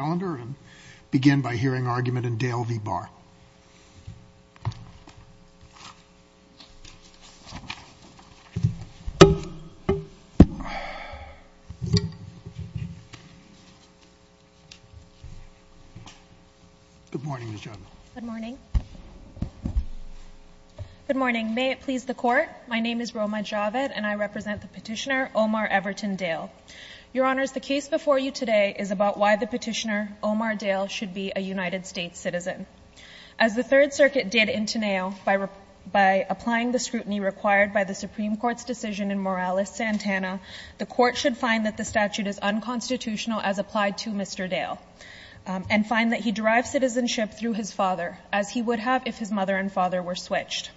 Good morning, Ms. Javed. Good morning. Good morning. May it please the Court, my name is Roma Javed and I represent the petitioner Omar Everton Dale. Your Honours, the case before you today is about why the petitioner Omar Dale should be a United States citizen. As the Third Circuit did in Teneo, by applying the scrutiny required by the Supreme Court's decision in Morales-Santana, the Court should find that the statute is unconstitutional as applied to Mr. Dale, and find that he derived citizenship through his father, as he would have if his mother and father were switched.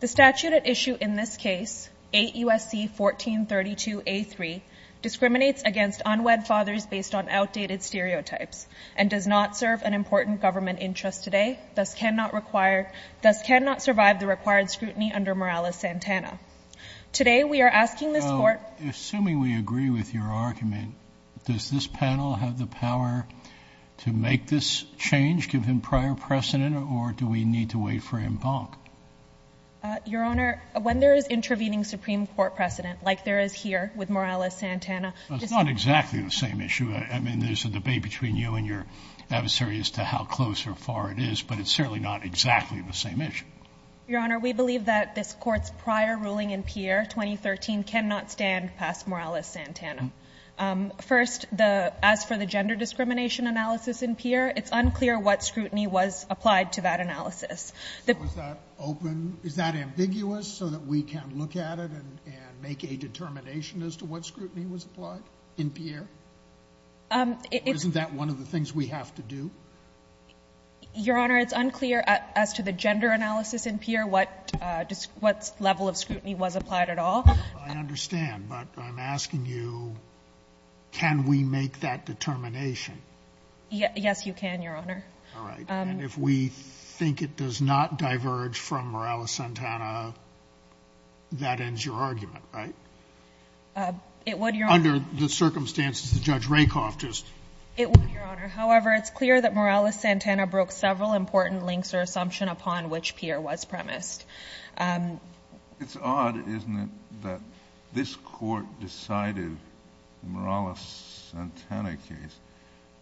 The statute at issue in this case, 8 U.S.C. 1432A3, discriminates against unwed fathers based on outdated stereotypes, and does not serve an important government interest today, thus cannot require, thus cannot survive the required scrutiny under Morales-Santana. Today, we are asking this Court. Assuming we agree with your argument, does this panel have the power to make this change, give him prior precedent, or do we need to wait for embankment? Your Honour, when there is intervening Supreme Court precedent, like there is here with Morales-Santana. It's not exactly the same issue. I mean, there's a debate between you and your adversary as to how close or far it is, but it's certainly not exactly the same issue. Your Honour, we believe that this Court's prior ruling in Pierre 2013 cannot stand past Morales-Santana. First, as for the gender discrimination analysis in Pierre, it's unclear what scrutiny was applied to that analysis. So is that open? Is that ambiguous so that we can look at it and make a determination as to what scrutiny was applied in Pierre? Isn't that one of the things we have to do? Your Honour, it's unclear as to the gender analysis in Pierre what level of scrutiny was applied at all. I understand, but I'm asking you, can we make that determination? Yes, you can, Your Honour. All right. And if we think it does not diverge from Morales-Santana, that ends your argument, right? It would, Your Honour. Under the circumstances that Judge Rakoff just – It would, Your Honour. However, it's clear that Morales-Santana broke several important links or assumptions upon which Pierre was premised. It's odd, isn't it, that this Court decided Morales-Santana case,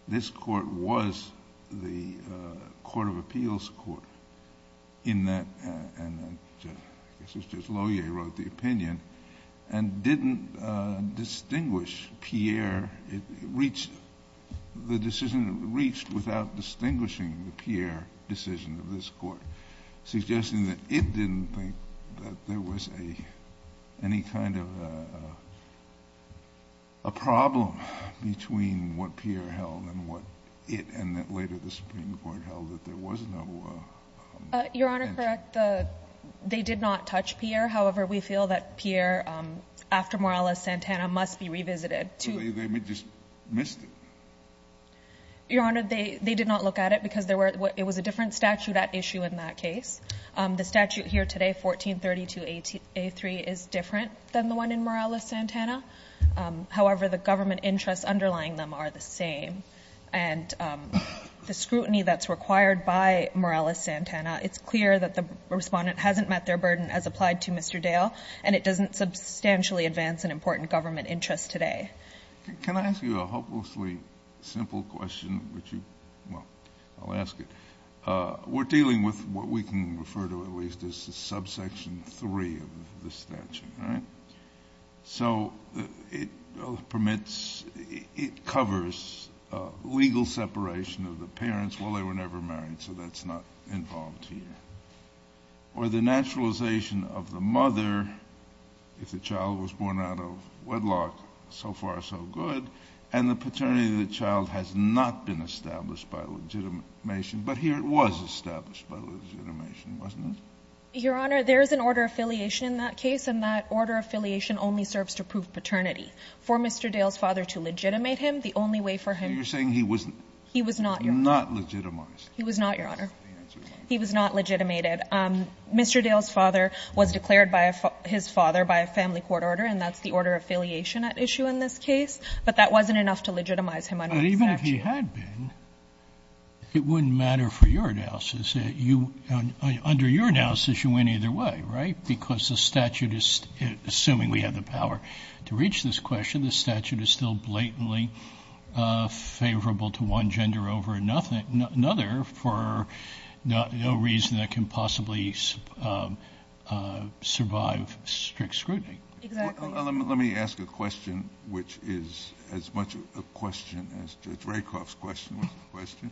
this Court was the Court of Appeals Court in that – and I guess it was just Loyer who wrote the opinion – and didn't distinguish Pierre. It reached – the decision reached without distinguishing the I didn't think that there was any kind of a problem between what Pierre held and what it – and that later the Supreme Court held that there was no – Your Honour, correct. They did not touch Pierre. However, we feel that Pierre, after Morales-Santana, must be revisited. So they just missed it? Your Honour, they did not look at it because there were – it was a different statute at issue in that case. The statute here today, 1432a3, is different than the one in Morales-Santana. However, the government interests underlying them are the same. And the scrutiny that's required by Morales-Santana, it's clear that the Respondent hasn't met their burden as applied to Mr. Dale, and it doesn't substantially advance an important government interest today. Can I ask you a hopelessly simple question, which you – well, I'll ask it. We're dealing with what we can refer to at least as the subsection 3 of the statute, right? So it permits – it covers legal separation of the parents. Well, they were never married, so that's not involved here. Or the naturalization of the mother, if the child was born out of the womb, is far so good, and the paternity of the child has not been established by legitimation. But here it was established by legitimation, wasn't it? Your Honour, there is an order of affiliation in that case, and that order of affiliation only serves to prove paternity. For Mr. Dale's father to legitimate him, the only way for him – So you're saying he was – He was not – Not legitimized. He was not, Your Honour. He was not legitimated. Mr. Dale's father was declared by his father by a family court order, and that's the order of affiliation at issue in this case. But that wasn't enough to legitimize him under the statute. But even if he had been, it wouldn't matter for your analysis. Under your analysis, you went either way, right? Because the statute is – assuming we have the power to reach this question, the statute is still blatantly favorable to one gender over another for no reason that can possibly survive strict scrutiny. Exactly. Let me ask a question which is as much a question as Judge Rakoff's question was a question.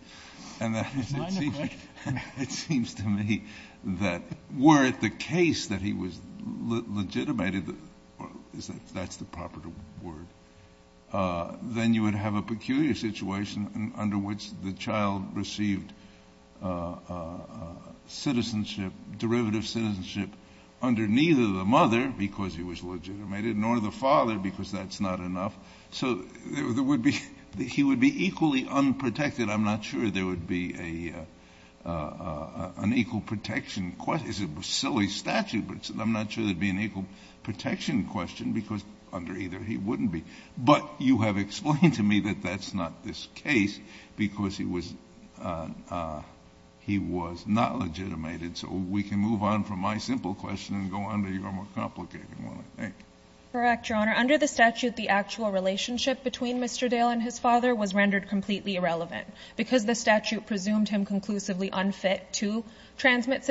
And that is – Minor question. It seems to me that were it the case that he was legitimated – that's the proper word – then you would have a peculiar situation under which the child received citizenship, derivative citizenship under neither the mother, because he was legitimated, nor the father, because that's not enough. So there would be – he would be equally unprotected. I'm not sure there would be an equal protection – it's a silly statute, but I'm not sure there would be an equal protection question, because under either he wouldn't be. But you have explained to me that that's not this case, because he was not legitimated. So we can move on from my simple question and go on to your more complicated one, I think. Correct, Your Honor. Under the statute, the actual relationship between Mr. Dale and his father was rendered completely irrelevant, because the statute presumed him conclusively unfit to transmit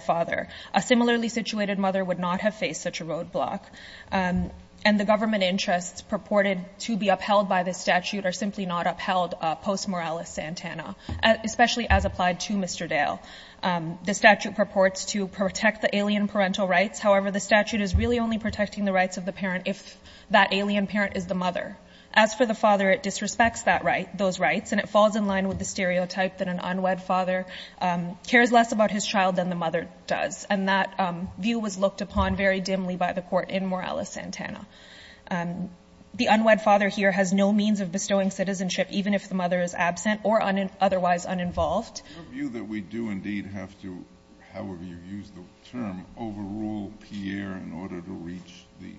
father. A similarly situated mother would not have faced such a roadblock. And the government interests purported to be upheld by this statute are simply not upheld post moralis santana, especially as applied to Mr. Dale. The statute purports to protect the alien parental rights. However, the statute is really only protecting the rights of the parent if that alien parent is the mother. As for the father, it disrespects those rights, and it falls in line with the stereotype that an alien parent does. And that view was looked upon very dimly by the court in moralis santana. The unwed father here has no means of bestowing citizenship, even if the mother is absent or otherwise uninvolved. Your view that we do indeed have to, however you use the term, overrule Pierre in order to reach the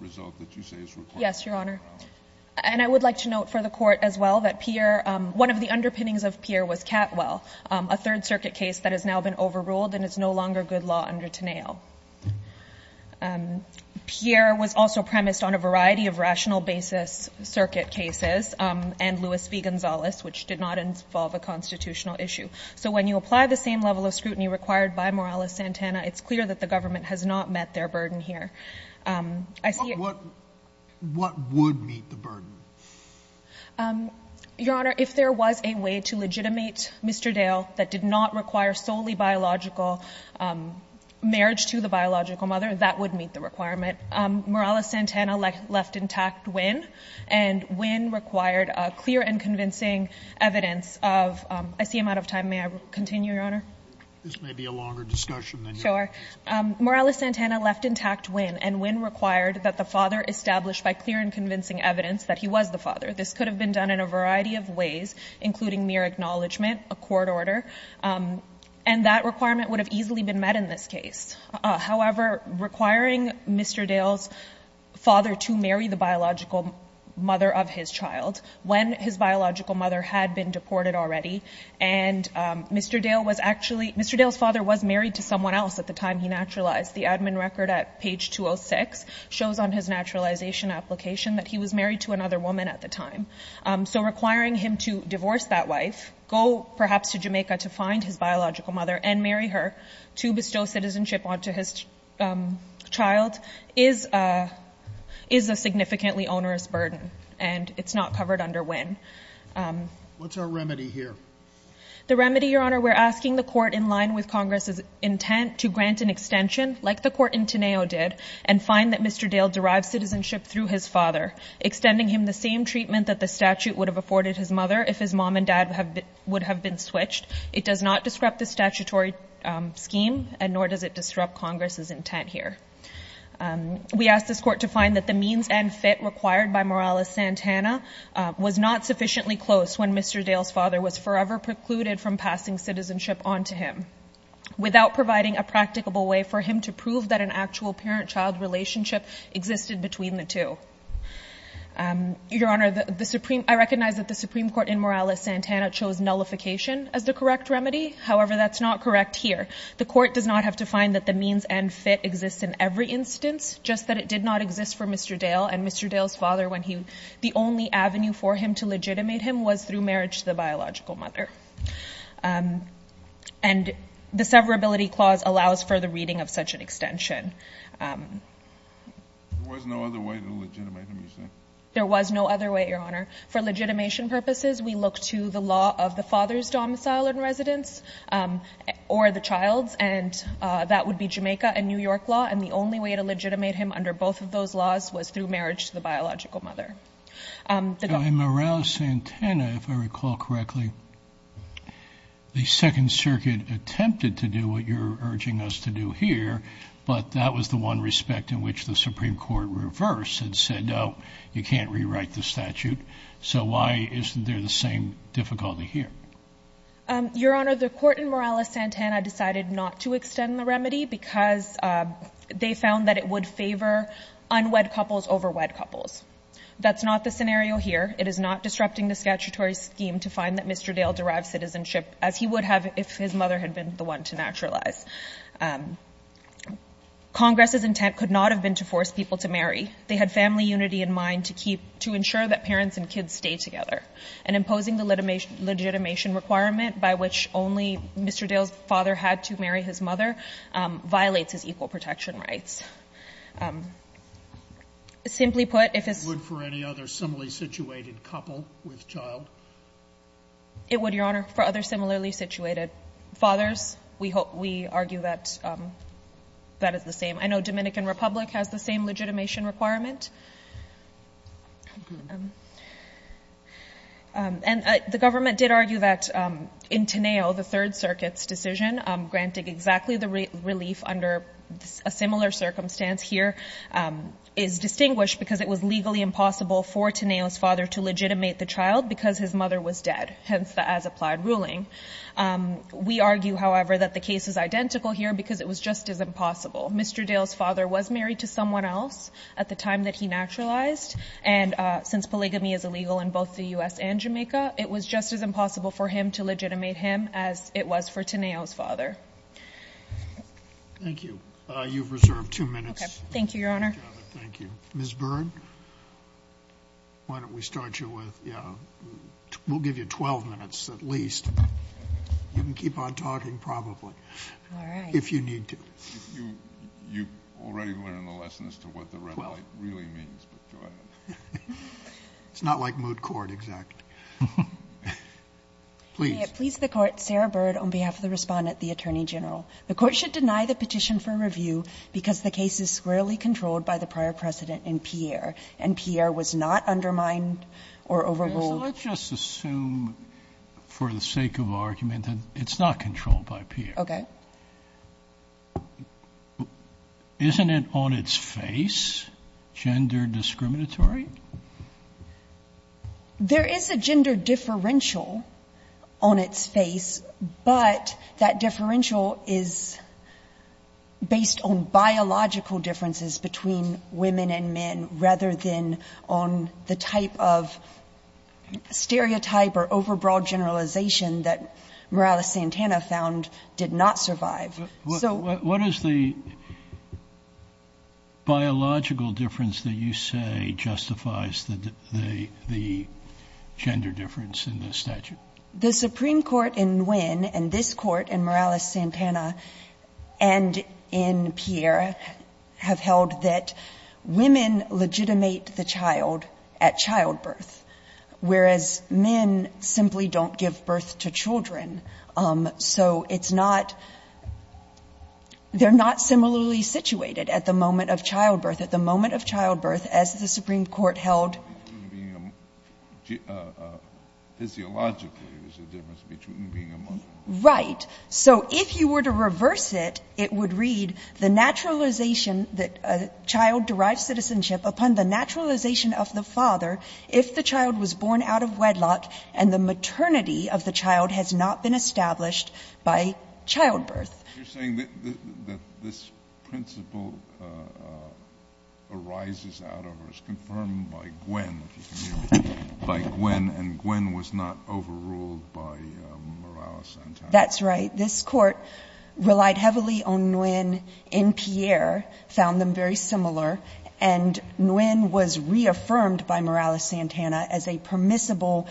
result that you say is required? Yes, Your Honor. And I would like to note for the court as well that Pierre, one of the underpinnings of Pierre was Catwell, a Third Circuit case that has now been overruled and is no longer good law under Teneil. Pierre was also premised on a variety of rational basis circuit cases, and Louis V. Gonzalez, which did not involve a constitutional issue. So when you apply the same level of scrutiny required by moralis santana, it's clear that the government has not met their burden here. What would meet the burden? Your Honor, if there was a way to legitimate Mr. Dale that did not require solely biological marriage to the biological mother, that would meet the requirement. Moralis santana left intact Wynne, and Wynne required clear and convincing evidence of — I see I'm out of time. May I continue, Your Honor? This may be a longer discussion than you think. Sure. Moralis santana left intact Wynne, and Wynne required that the father established by clear and convincing evidence that he was the father. This could have been done in a variety of ways, including mere acknowledgment, a court order. And that requirement would have easily been met in this case. However, requiring Mr. Dale's father to marry the biological mother of his child, when his biological mother had been deported already, and Mr. Dale was actually — Mr. Dale's father was married to someone else at the time he naturalized. The admin record at page 206 shows on his naturalization application that he was married to another woman at the time. So requiring him to divorce that wife, go perhaps to Jamaica to find his biological mother and marry her to bestow citizenship onto his child is a significantly onerous burden, and it's not covered under Wynne. What's our remedy here? The remedy, Your Honor, we're asking the court, in line with Congress's intent, to grant an extension, like the court in Teneo did, and find that Mr. Dale derived citizenship through his father, extending him the same treatment that the statute would have afforded his mother if his mom and dad would have been switched. It does not disrupt the statutory scheme, and nor does it disrupt Congress's intent here. We ask this court to find that the means and fit required by Morales-Santana was not sufficiently close when Mr. Dale's father was forever precluded from passing citizenship onto him without providing a practicable way for him to prove that an actual parent-child relationship existed between the two. Your Honor, I recognize that the Supreme Court in Morales-Santana chose nullification as the correct remedy. However, that's not correct here. The court does not have to find that the means and fit exists in every instance, just that it did not exist for Mr. Dale and Mr. Dale's father when the only avenue for him to legitimate him was through marriage to the biological mother. And the severability clause allows for the reading of such an extension. There was no other way to legitimate him, you say? There was no other way, Your Honor. For legitimation purposes, we look to the law of the father's domicile in residence or the child's, and that would be Jamaica and New York law, and the only way to legitimate him under both of those laws was through marriage to the biological mother. In Morales-Santana, if I recall correctly, the Second Circuit attempted to do what you're urging us to do here, but that was the one respect in which the Supreme Court reversed and said, no, you can't rewrite the statute. So why isn't there the same difficulty here? Your Honor, the court in Morales-Santana decided not to extend the remedy because they found that it would favor unwed couples over wed couples. That's not the scenario here. It is not disrupting the statutory scheme to find that Mr. Dale derives citizenship, as he would have if his mother had been the one to naturalize. Congress's intent could not have been to force people to marry. They had family unity in mind to ensure that parents and kids stay together. And imposing the legitimation requirement by which only Mr. Dale's father had to marry his mother violates his equal protection rights. Simply put, if it's the same. Sotomayor, it would for any other similarly situated couple with child? It would, Your Honor, for other similarly situated fathers. We hope we argue that that is the same. I know Dominican Republic has the same legitimation requirement. And the government did argue that in Teneo, the Third Circuit's decision, granting exactly the relief under a similar circumstance here, is distinguished because it was legally impossible for Teneo's father to legitimate the child because his mother was dead, hence the as-applied ruling. We argue, however, that the case is identical here because it was just as impossible. Mr. Dale's father was married to someone else at the time that he naturalized. And since polygamy is illegal in both the U.S. and Jamaica, it was just as impossible for him to legitimate him as it was for Teneo's father. Thank you. You've reserved two minutes. Okay. Thank you, Your Honor. Thank you. Ms. Byrd, why don't we start you with, yeah, we'll give you 12 minutes at least. You can keep on talking probably. All right. If you need to. You already learned the lesson as to what the red light really means, but go ahead. It's not like moot court, exactly. Please. May it please the Court, Sarah Byrd, on behalf of the Respondent, the Attorney General, the Court should deny the petition for review because the case is squarely controlled by the prior precedent in Pierre, and Pierre was not undermined or overruled. So let's just assume for the sake of argument that it's not controlled by Pierre. Okay. Isn't it on its face gender discriminatory? There is a gender differential on its face, but that differential is based on biological differences between women and men rather than on the type of stereotype or overbroad generalization that Morales-Santana found did not survive. What is the biological difference that you say justifies the gender difference in the statute? The Supreme Court in Nguyen and this Court in Morales-Santana and in Pierre have held that women legitimate the child at childbirth, whereas men simply don't give birth to children. So it's not they're not similarly situated at the moment of childbirth. At the moment of childbirth, as the Supreme Court held. Physiologically, there's a difference between being a Muslim. Right. So if you were to reverse it, it would read, The naturalization that a child derives citizenship upon the naturalization of the father if the child was born out of wedlock and the maternity of the child has not been established by childbirth. You're saying that this principle arises out of or is confirmed by Nguyen, if you can hear me, by Nguyen, and Nguyen was not overruled by Morales-Santana. That's right. This Court relied heavily on Nguyen in Pierre, found them very similar, and Nguyen was reaffirmed by Morales-Santana as a permissible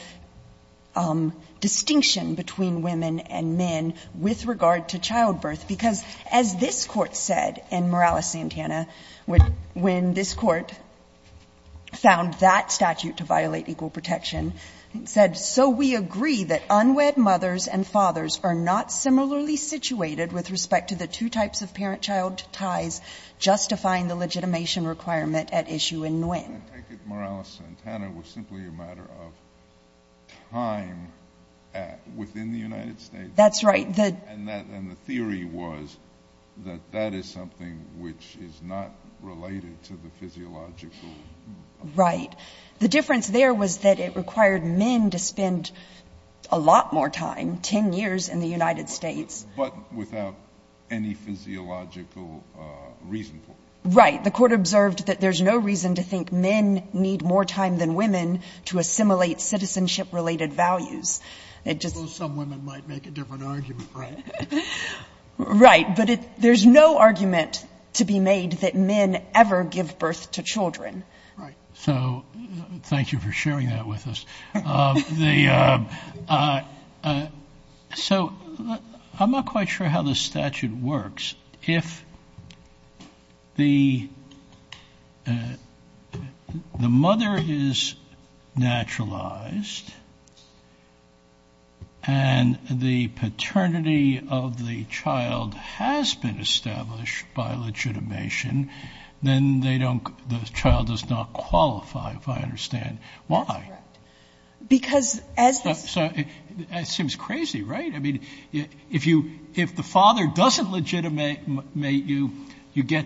distinction between women and men with regard to childbirth. Because as this Court said in Morales-Santana, when this Court found that statute to violate equal protection, it said, So we agree that unwed mothers and fathers are not similarly situated with respect to the two types of parent-child ties justifying the legitimation requirement at issue in Nguyen. I take it Morales-Santana was simply a matter of time within the United States. That's right. And the theory was that that is something which is not related to the physiological Right. The difference there was that it required men to spend a lot more time, 10 years, in the United States. But without any physiological reason for it. Right. The Court observed that there's no reason to think men need more time than women to assimilate citizenship-related values. I suppose some women might make a different argument, right? Right. But there's no argument to be made that men ever give birth to children. Right. So thank you for sharing that with us. So I'm not quite sure how this statute works. If the mother is naturalized and the paternity of the child has been established by legitimation, then the child does not qualify, if I understand. Why? That's correct. Because as the So it seems crazy, right? I mean, if the father doesn't legitimate you, you get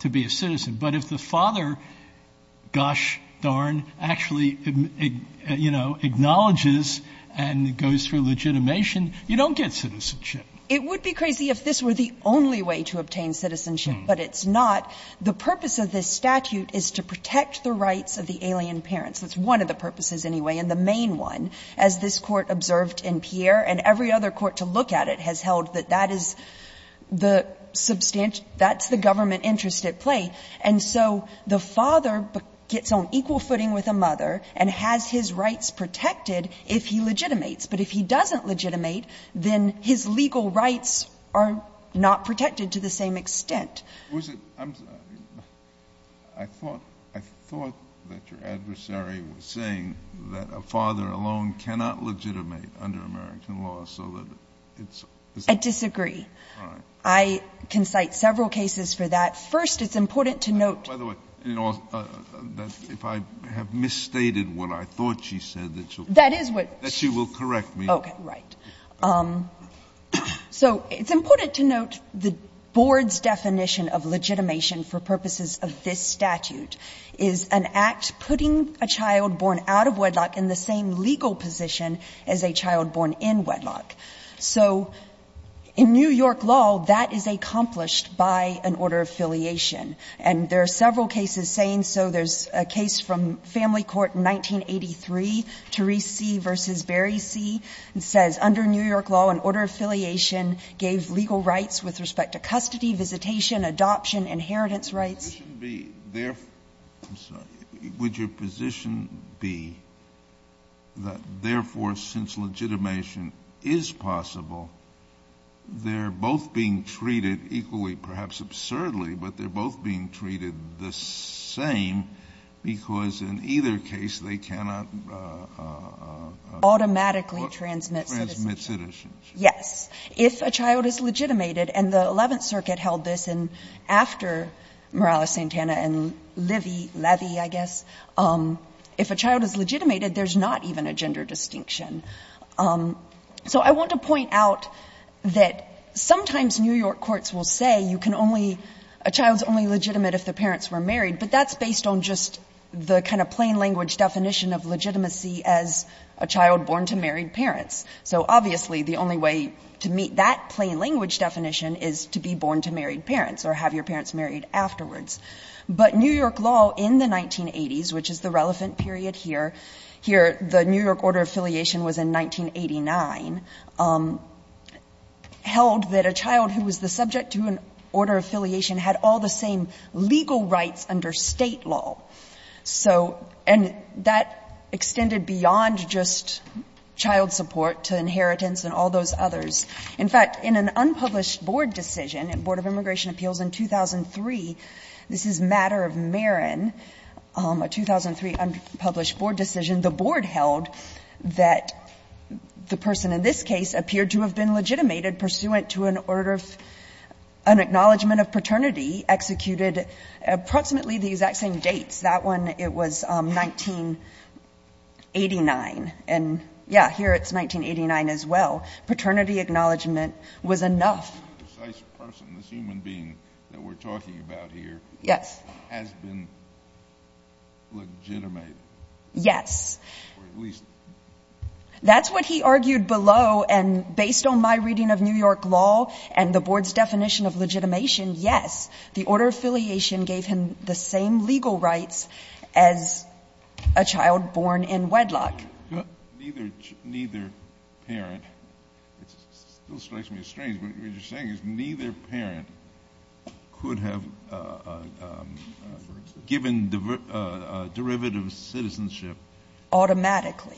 to be a citizen. But if the father, gosh darn, actually acknowledges and goes through legitimation, you don't get citizenship. It would be crazy if this were the only way to obtain citizenship, but it's not. The purpose of this statute is to protect the rights of the alien parents. That's one of the purposes, anyway, and the main one. As this Court observed in Pierre and every other court to look at it has held that that is the substantial – that's the government interest at play. And so the father gets on equal footing with a mother and has his rights protected if he legitimates. But if he doesn't legitimate, then his legal rights are not protected to the same extent. I'm sorry. I thought that your adversary was saying that a father alone cannot legitimate under American law. I disagree. All right. I can cite several cases for that. First, it's important to note. By the way, if I have misstated what I thought she said, that she will correct me. Okay. Right. So it's important to note the Board's definition of legitimation for purposes of this statute is an act putting a child born out of wedlock in the same legal position as a child born in wedlock. So in New York law, that is accomplished by an order of affiliation. And there are several cases saying so. There's a case from Family Court in 1983, Terese C. v. Berry C. It says, under New York law, an order of affiliation gave legal rights with respect to custody, visitation, adoption, inheritance rights. Would your position be that, therefore, since legitimation is possible, they're both being treated equally, perhaps absurdly, but they're both being treated the same, because in either case, they cannot automatically transmit citizenship? Transmit citizenship. Yes. If a child is legitimated, and the Eleventh Circuit held this after Morales-Santana and Levy, I guess, if a child is legitimated, there's not even a gender distinction. So I want to point out that sometimes New York courts will say you can only — a child is only legitimate if the parents were married, but that's based on just the kind of plain language definition of legitimacy as a child born to married parents. So obviously, the only way to meet that plain language definition is to be born to married parents or have your parents married afterwards. But New York law in the 1980s, which is the relevant period here, here the New York order of affiliation was in 1989, held that a child who was the subject to an order of affiliation had all the same legal rights under State law. So — and that extended beyond just child support to inheritance and all those others. In fact, in an unpublished board decision, Board of Immigration Appeals in 2003, this is matter of Marin, a 2003 unpublished board decision, the board held that the person in this case appeared to have been legitimated pursuant to an order of — an acknowledgment of paternity executed approximately the exact same dates. That one, it was 1989. And yeah, here it's 1989 as well. Paternity acknowledgment was enough. The precise person, this human being that we're talking about here — Yes. — has been legitimated. Yes. Or at least — That's what he argued below. And based on my reading of New York law and the board's definition of legitimation, yes, the order of affiliation gave him the same legal rights as a child born in wedlock. Neither parent — it still strikes me as strange, but what you're saying is neither parent could have given derivative citizenship — Automatically.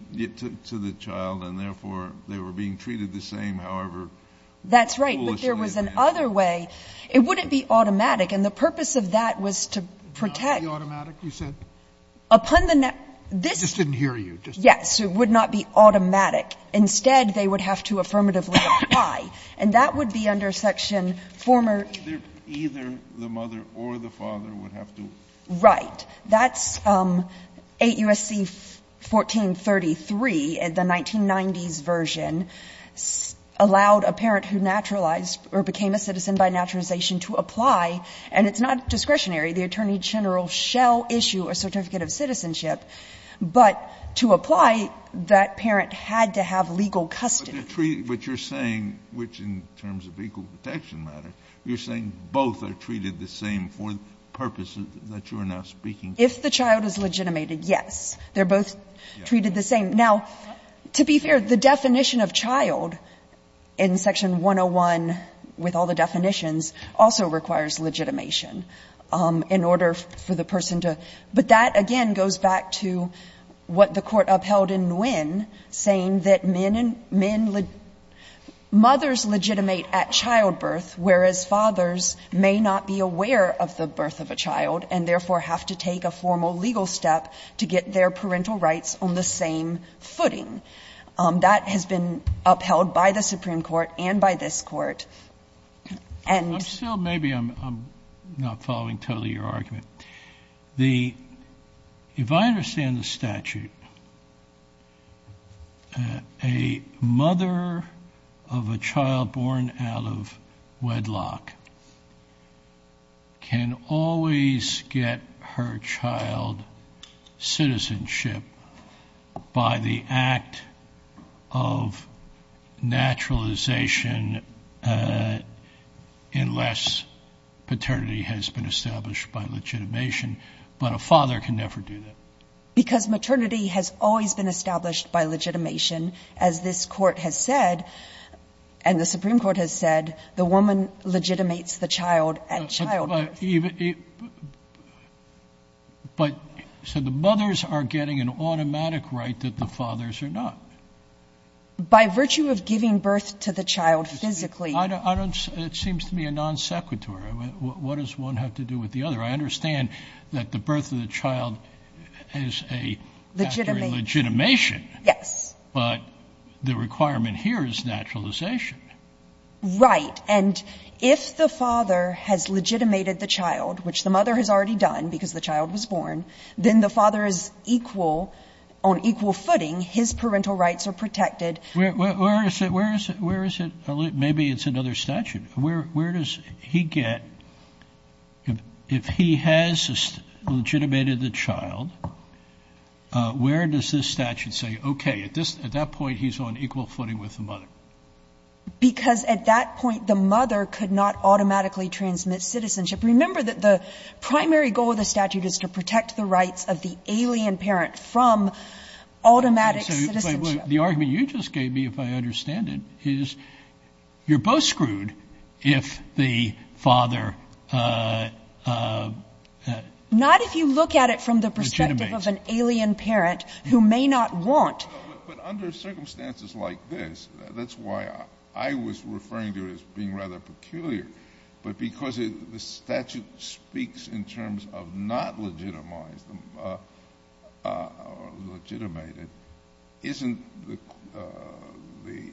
— to the child, and therefore, they were being treated the same, however foolishly it may have been. That's right. But there was another way. It wouldn't be automatic. And the purpose of that was to protect — Not be automatic, you said? Upon the — I just didn't hear you. Yes. It would not be automatic. Instead, they would have to affirmatively apply. And that would be under section former — Either the mother or the father would have to — Right. But that's 8 U.S.C. 1433, the 1990s version, allowed a parent who naturalized or became a citizen by naturalization to apply. And it's not discretionary. The attorney general shall issue a certificate of citizenship. But to apply, that parent had to have legal custody. But they're treated — what you're saying, which in terms of equal protection matter, you're saying both are treated the same for purposes that you're now speaking to? If the child is legitimated, yes. They're both treated the same. Now, to be fair, the definition of child in section 101, with all the definitions, also requires legitimation in order for the person to — but that, again, goes back to what the Court upheld in Nguyen, saying that men and — mothers legitimate at childbirth, whereas fathers may not be aware of the birth of a child and therefore have to take a formal legal step to get their parental rights on the same footing. That has been upheld by the Supreme Court and by this Court. And — I'm still — maybe I'm not following totally your argument. The — if I understand the statute, a mother of a child born out of wedlock can always get her child citizenship by the act of naturalization unless paternity has been established by legitimation. But a father can never do that. Because maternity has always been established by legitimation. As this Court has said, and the Supreme Court has said, the woman legitimates the child at childbirth. But — so the mothers are getting an automatic right that the fathers are not. By virtue of giving birth to the child physically. I don't — it seems to me a non sequitur. What does one have to do with the other? I understand that the birth of the child is a — Legitimate. — factor in legitimation. Yes. But the requirement here is naturalization. Right. And if the father has legitimated the child, which the mother has already done because the child was born, then the father is equal — on equal footing. His parental rights are protected. Where is it? Where is it? Where is it? Maybe it's another statute. Where does he get — if he has legitimated the child, where does this statute say, okay, at this — at that point, he's on equal footing with the mother? Because at that point, the mother could not automatically transmit citizenship. Remember that the primary goal of the statute is to protect the rights of the alien parent from automatic citizenship. The argument you just gave me, if I understand it, is you're both screwed if the father — Not if you look at it from the perspective of an alien parent who may not want — But under circumstances like this, that's why I was referring to it as being rather peculiar. But because the statute speaks in terms of not legitimized or legitimated, isn't the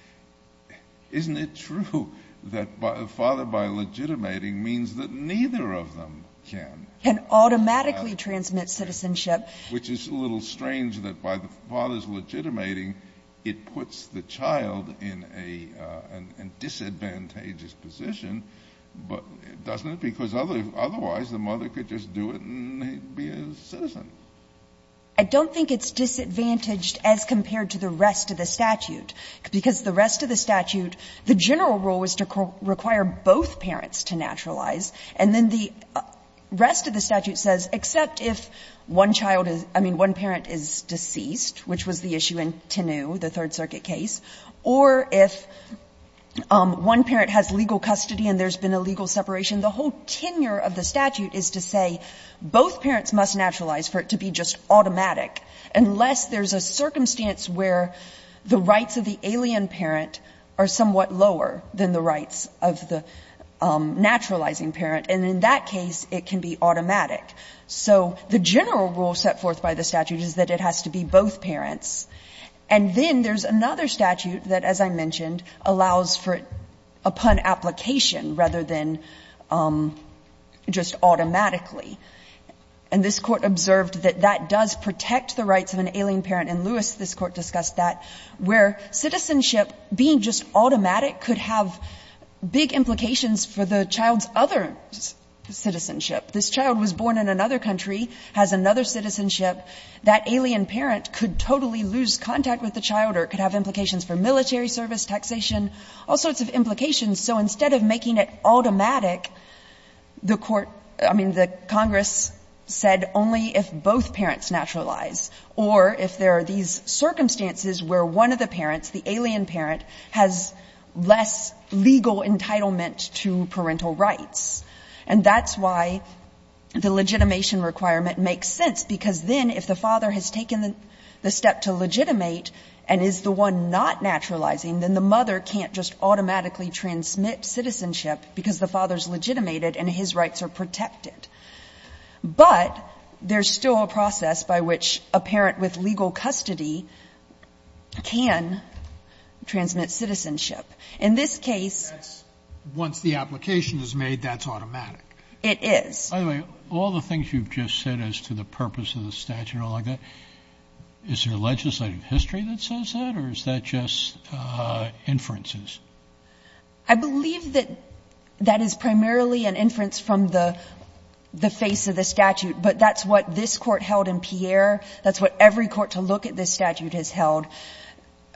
— isn't it true that father by legitimating means that neither of them can? Can automatically transmit citizenship. Which is a little strange that by the father's legitimating, it puts the child in a disadvantageous position, but doesn't it? Because otherwise, the mother could just do it and be a citizen. I don't think it's disadvantaged as compared to the rest of the statute. Because the rest of the statute, the general rule is to require both parents to naturalize. And then the rest of the statute says, except if one child is — I mean, one parent is deceased, which was the issue in Tenu, the Third Circuit case, or if one parent has legal custody and there's been a legal separation, the whole tenure of the statute is to say both parents must naturalize for it to be just automatic, unless there's a circumstance where the rights of the alien parent are somewhat lower than the rights of the naturalizing parent. And in that case, it can be automatic. So the general rule set forth by the statute is that it has to be both parents. And then there's another statute that, as I mentioned, allows for a pun application rather than just automatically. And this Court observed that that does protect the rights of an alien parent. In Lewis, this Court discussed that, where citizenship, being just automatic, could have big implications for the child's other citizenship. This child was born in another country, has another citizenship. That alien parent could totally lose contact with the child or could have implications for military service, taxation, all sorts of implications. So instead of making it automatic, the Court — I mean, the Congress said only if both parents naturalize or if there are these circumstances where one of the parents, the alien parent, has less legal entitlement to parental rights. And that's why the legitimation requirement makes sense, because then if the father has taken the step to legitimate and is the one not naturalizing, then the mother can't just automatically transmit citizenship because the father is legitimated and his rights are protected. But there's still a process by which a parent with legal custody can transmit In this case — Sotomayor, that's — once the application is made, that's automatic. It is. By the way, all the things you've just said as to the purpose of the statute and all like that, is there legislative history that says that or is that just inferences? I believe that that is primarily an inference from the face of the statute. But that's what this Court held in Pierre. That's what every court to look at this statute has held.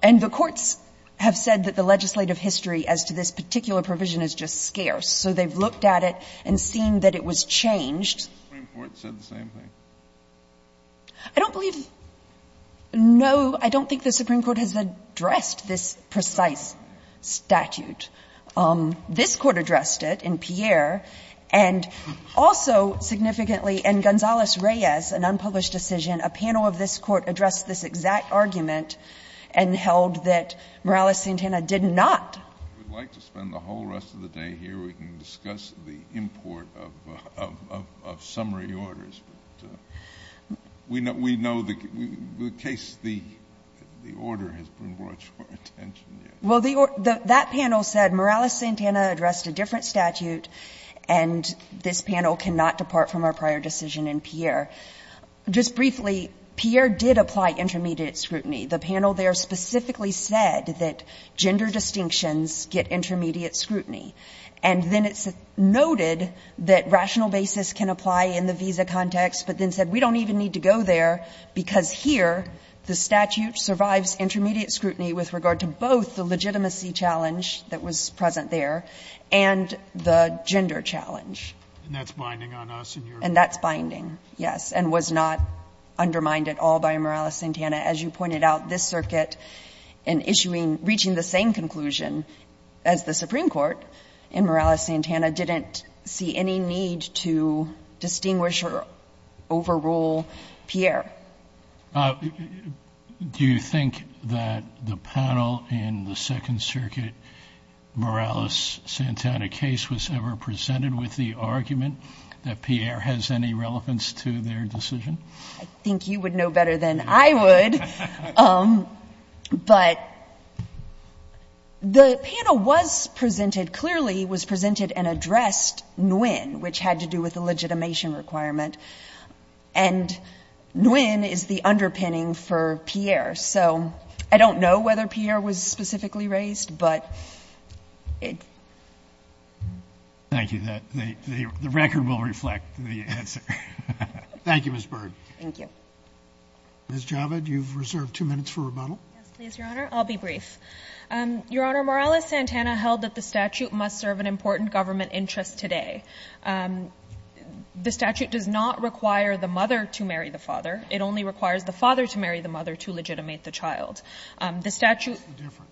And the courts have said that the legislative history as to this particular provision is just scarce. So they've looked at it and seen that it was changed. The Supreme Court said the same thing. I don't believe — no, I don't think the Supreme Court has addressed this precise statute. This Court addressed it in Pierre. And also significantly in Gonzales-Reyes, an unpublished decision, a panel of this Court addressed this exact argument and held that Morales-Santana did not. We'd like to spend the whole rest of the day here. We can discuss the import of summary orders. But we know the case, the order has been brought to our attention. Well, that panel said Morales-Santana addressed a different statute and this panel cannot depart from our prior decision in Pierre. Just briefly, Pierre did apply intermediate scrutiny. The panel there specifically said that gender distinctions get intermediate scrutiny. And then it noted that rational basis can apply in the visa context, but then said we don't even need to go there because here the statute survives intermediate scrutiny with regard to both the legitimacy challenge that was present there and the gender challenge. And that's binding on us. And that's binding, yes, and was not undermined at all by Morales-Santana. As you pointed out, this circuit, in issuing — reaching the same conclusion as the Supreme Court in Morales-Santana, didn't see any need to distinguish or overrule Pierre. Do you think that the panel in the Second Circuit Morales-Santana case was ever presented with the argument that Pierre has any relevance to their decision? I think you would know better than I would. But the panel was presented — clearly was presented and addressed Nguyen, which had to do with the legitimation requirement. And Nguyen is the underpinning for Pierre. So I don't know whether Pierre was specifically raised, but it — Thank you. The record will reflect the answer. Thank you, Ms. Berg. Thank you. Ms. Javid, you've reserved two minutes for rebuttal. Yes, please, Your Honor. I'll be brief. Your Honor, Morales-Santana held that the statute must serve an important government interest today. The statute does not require the mother to marry the father. It only requires the father to marry the mother to legitimate the child. The statute — What's the difference?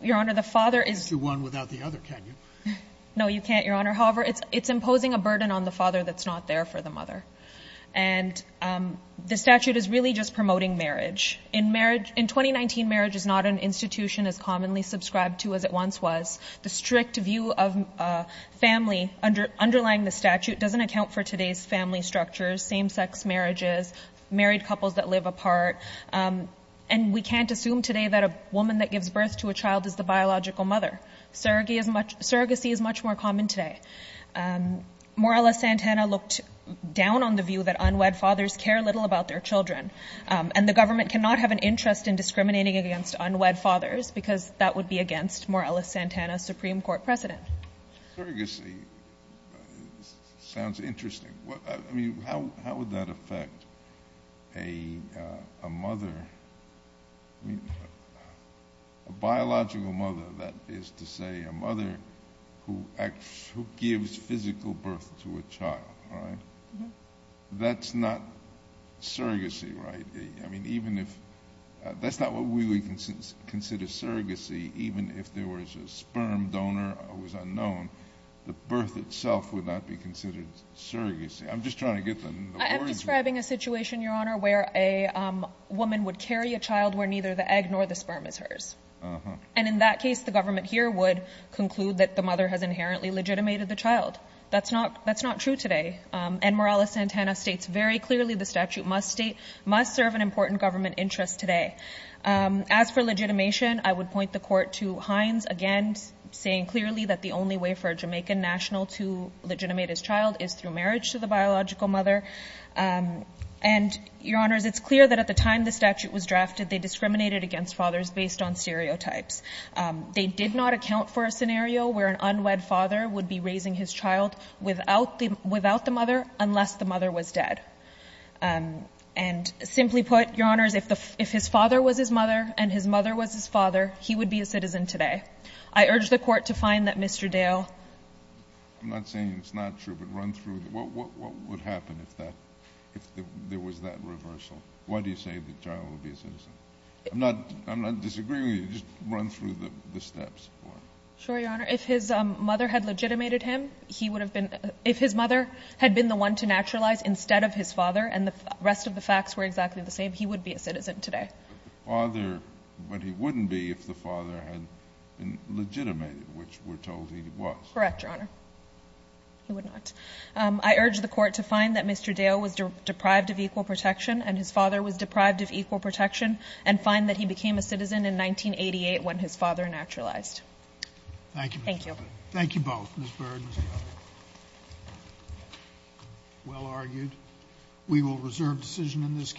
Your Honor, the father is — You can't do one without the other, can you? No, you can't, Your Honor. However, it's imposing a burden on the father that's not there for the mother. And the statute is really just promoting marriage. In 2019, marriage is not an institution as commonly subscribed to as it once was. The strict view of family underlying the statute doesn't account for today's family structures, same-sex marriages, married couples that live apart. And we can't assume today that a woman that gives birth to a child is the biological mother. Surrogacy is much more common today. Morales-Santana looked down on the view that unwed fathers care little about their children. And the government cannot have an interest in discriminating against unwed fathers because that would be against Morales-Santana's Supreme Court precedent. Surrogacy sounds interesting. I mean, how would that affect a mother — a biological mother, that is to say a mother who gives physical birth to a child, right? That's not surrogacy, right? I mean, even if — that's not what we would consider surrogacy, even if there was a sperm donor that was unknown. The birth itself would not be considered surrogacy. I'm just trying to get the words right. I'm describing a situation, Your Honor, where a woman would carry a child where neither the egg nor the sperm is hers. And in that case, the government here would conclude that the mother has inherently legitimated the child. That's not true today. And Morales-Santana states very clearly the statute must serve an important government interest today. As for legitimation, I would point the Court to Hines, again, saying clearly that the only way for a Jamaican national to legitimate his child is through marriage to the biological mother. And, Your Honors, it's clear that at the time the statute was drafted, they discriminated against fathers based on stereotypes. They did not account for a scenario where an unwed father would be raising his child without the mother unless the mother was dead. And simply put, Your Honors, if his father was his mother and his mother was his father, he would be a citizen today. I urge the Court to find that Mr. Dale — I'm not saying it's not true, but run through — what would happen if that — if there was that reversal? Why do you say the child would be a citizen? I'm not — I'm not disagreeing with you. Just run through the steps. Sure, Your Honor. If his mother had legitimated him, he would have been — if his mother had been the one to naturalize instead of his father and the rest of the facts were exactly the same, he would be a citizen today. But the father — but he wouldn't be if the father had been legitimated, which we're told he was. Correct, Your Honor. He would not. I urge the Court to find that Mr. Dale was deprived of equal protection and his father was deprived of equal protection and find that he became a citizen in 1988 when his father naturalized. Thank you, Ms. Baird. Thank you. Thank you both, Ms. Baird and Ms. Gallagher. Well argued. We will reserve decision in this case.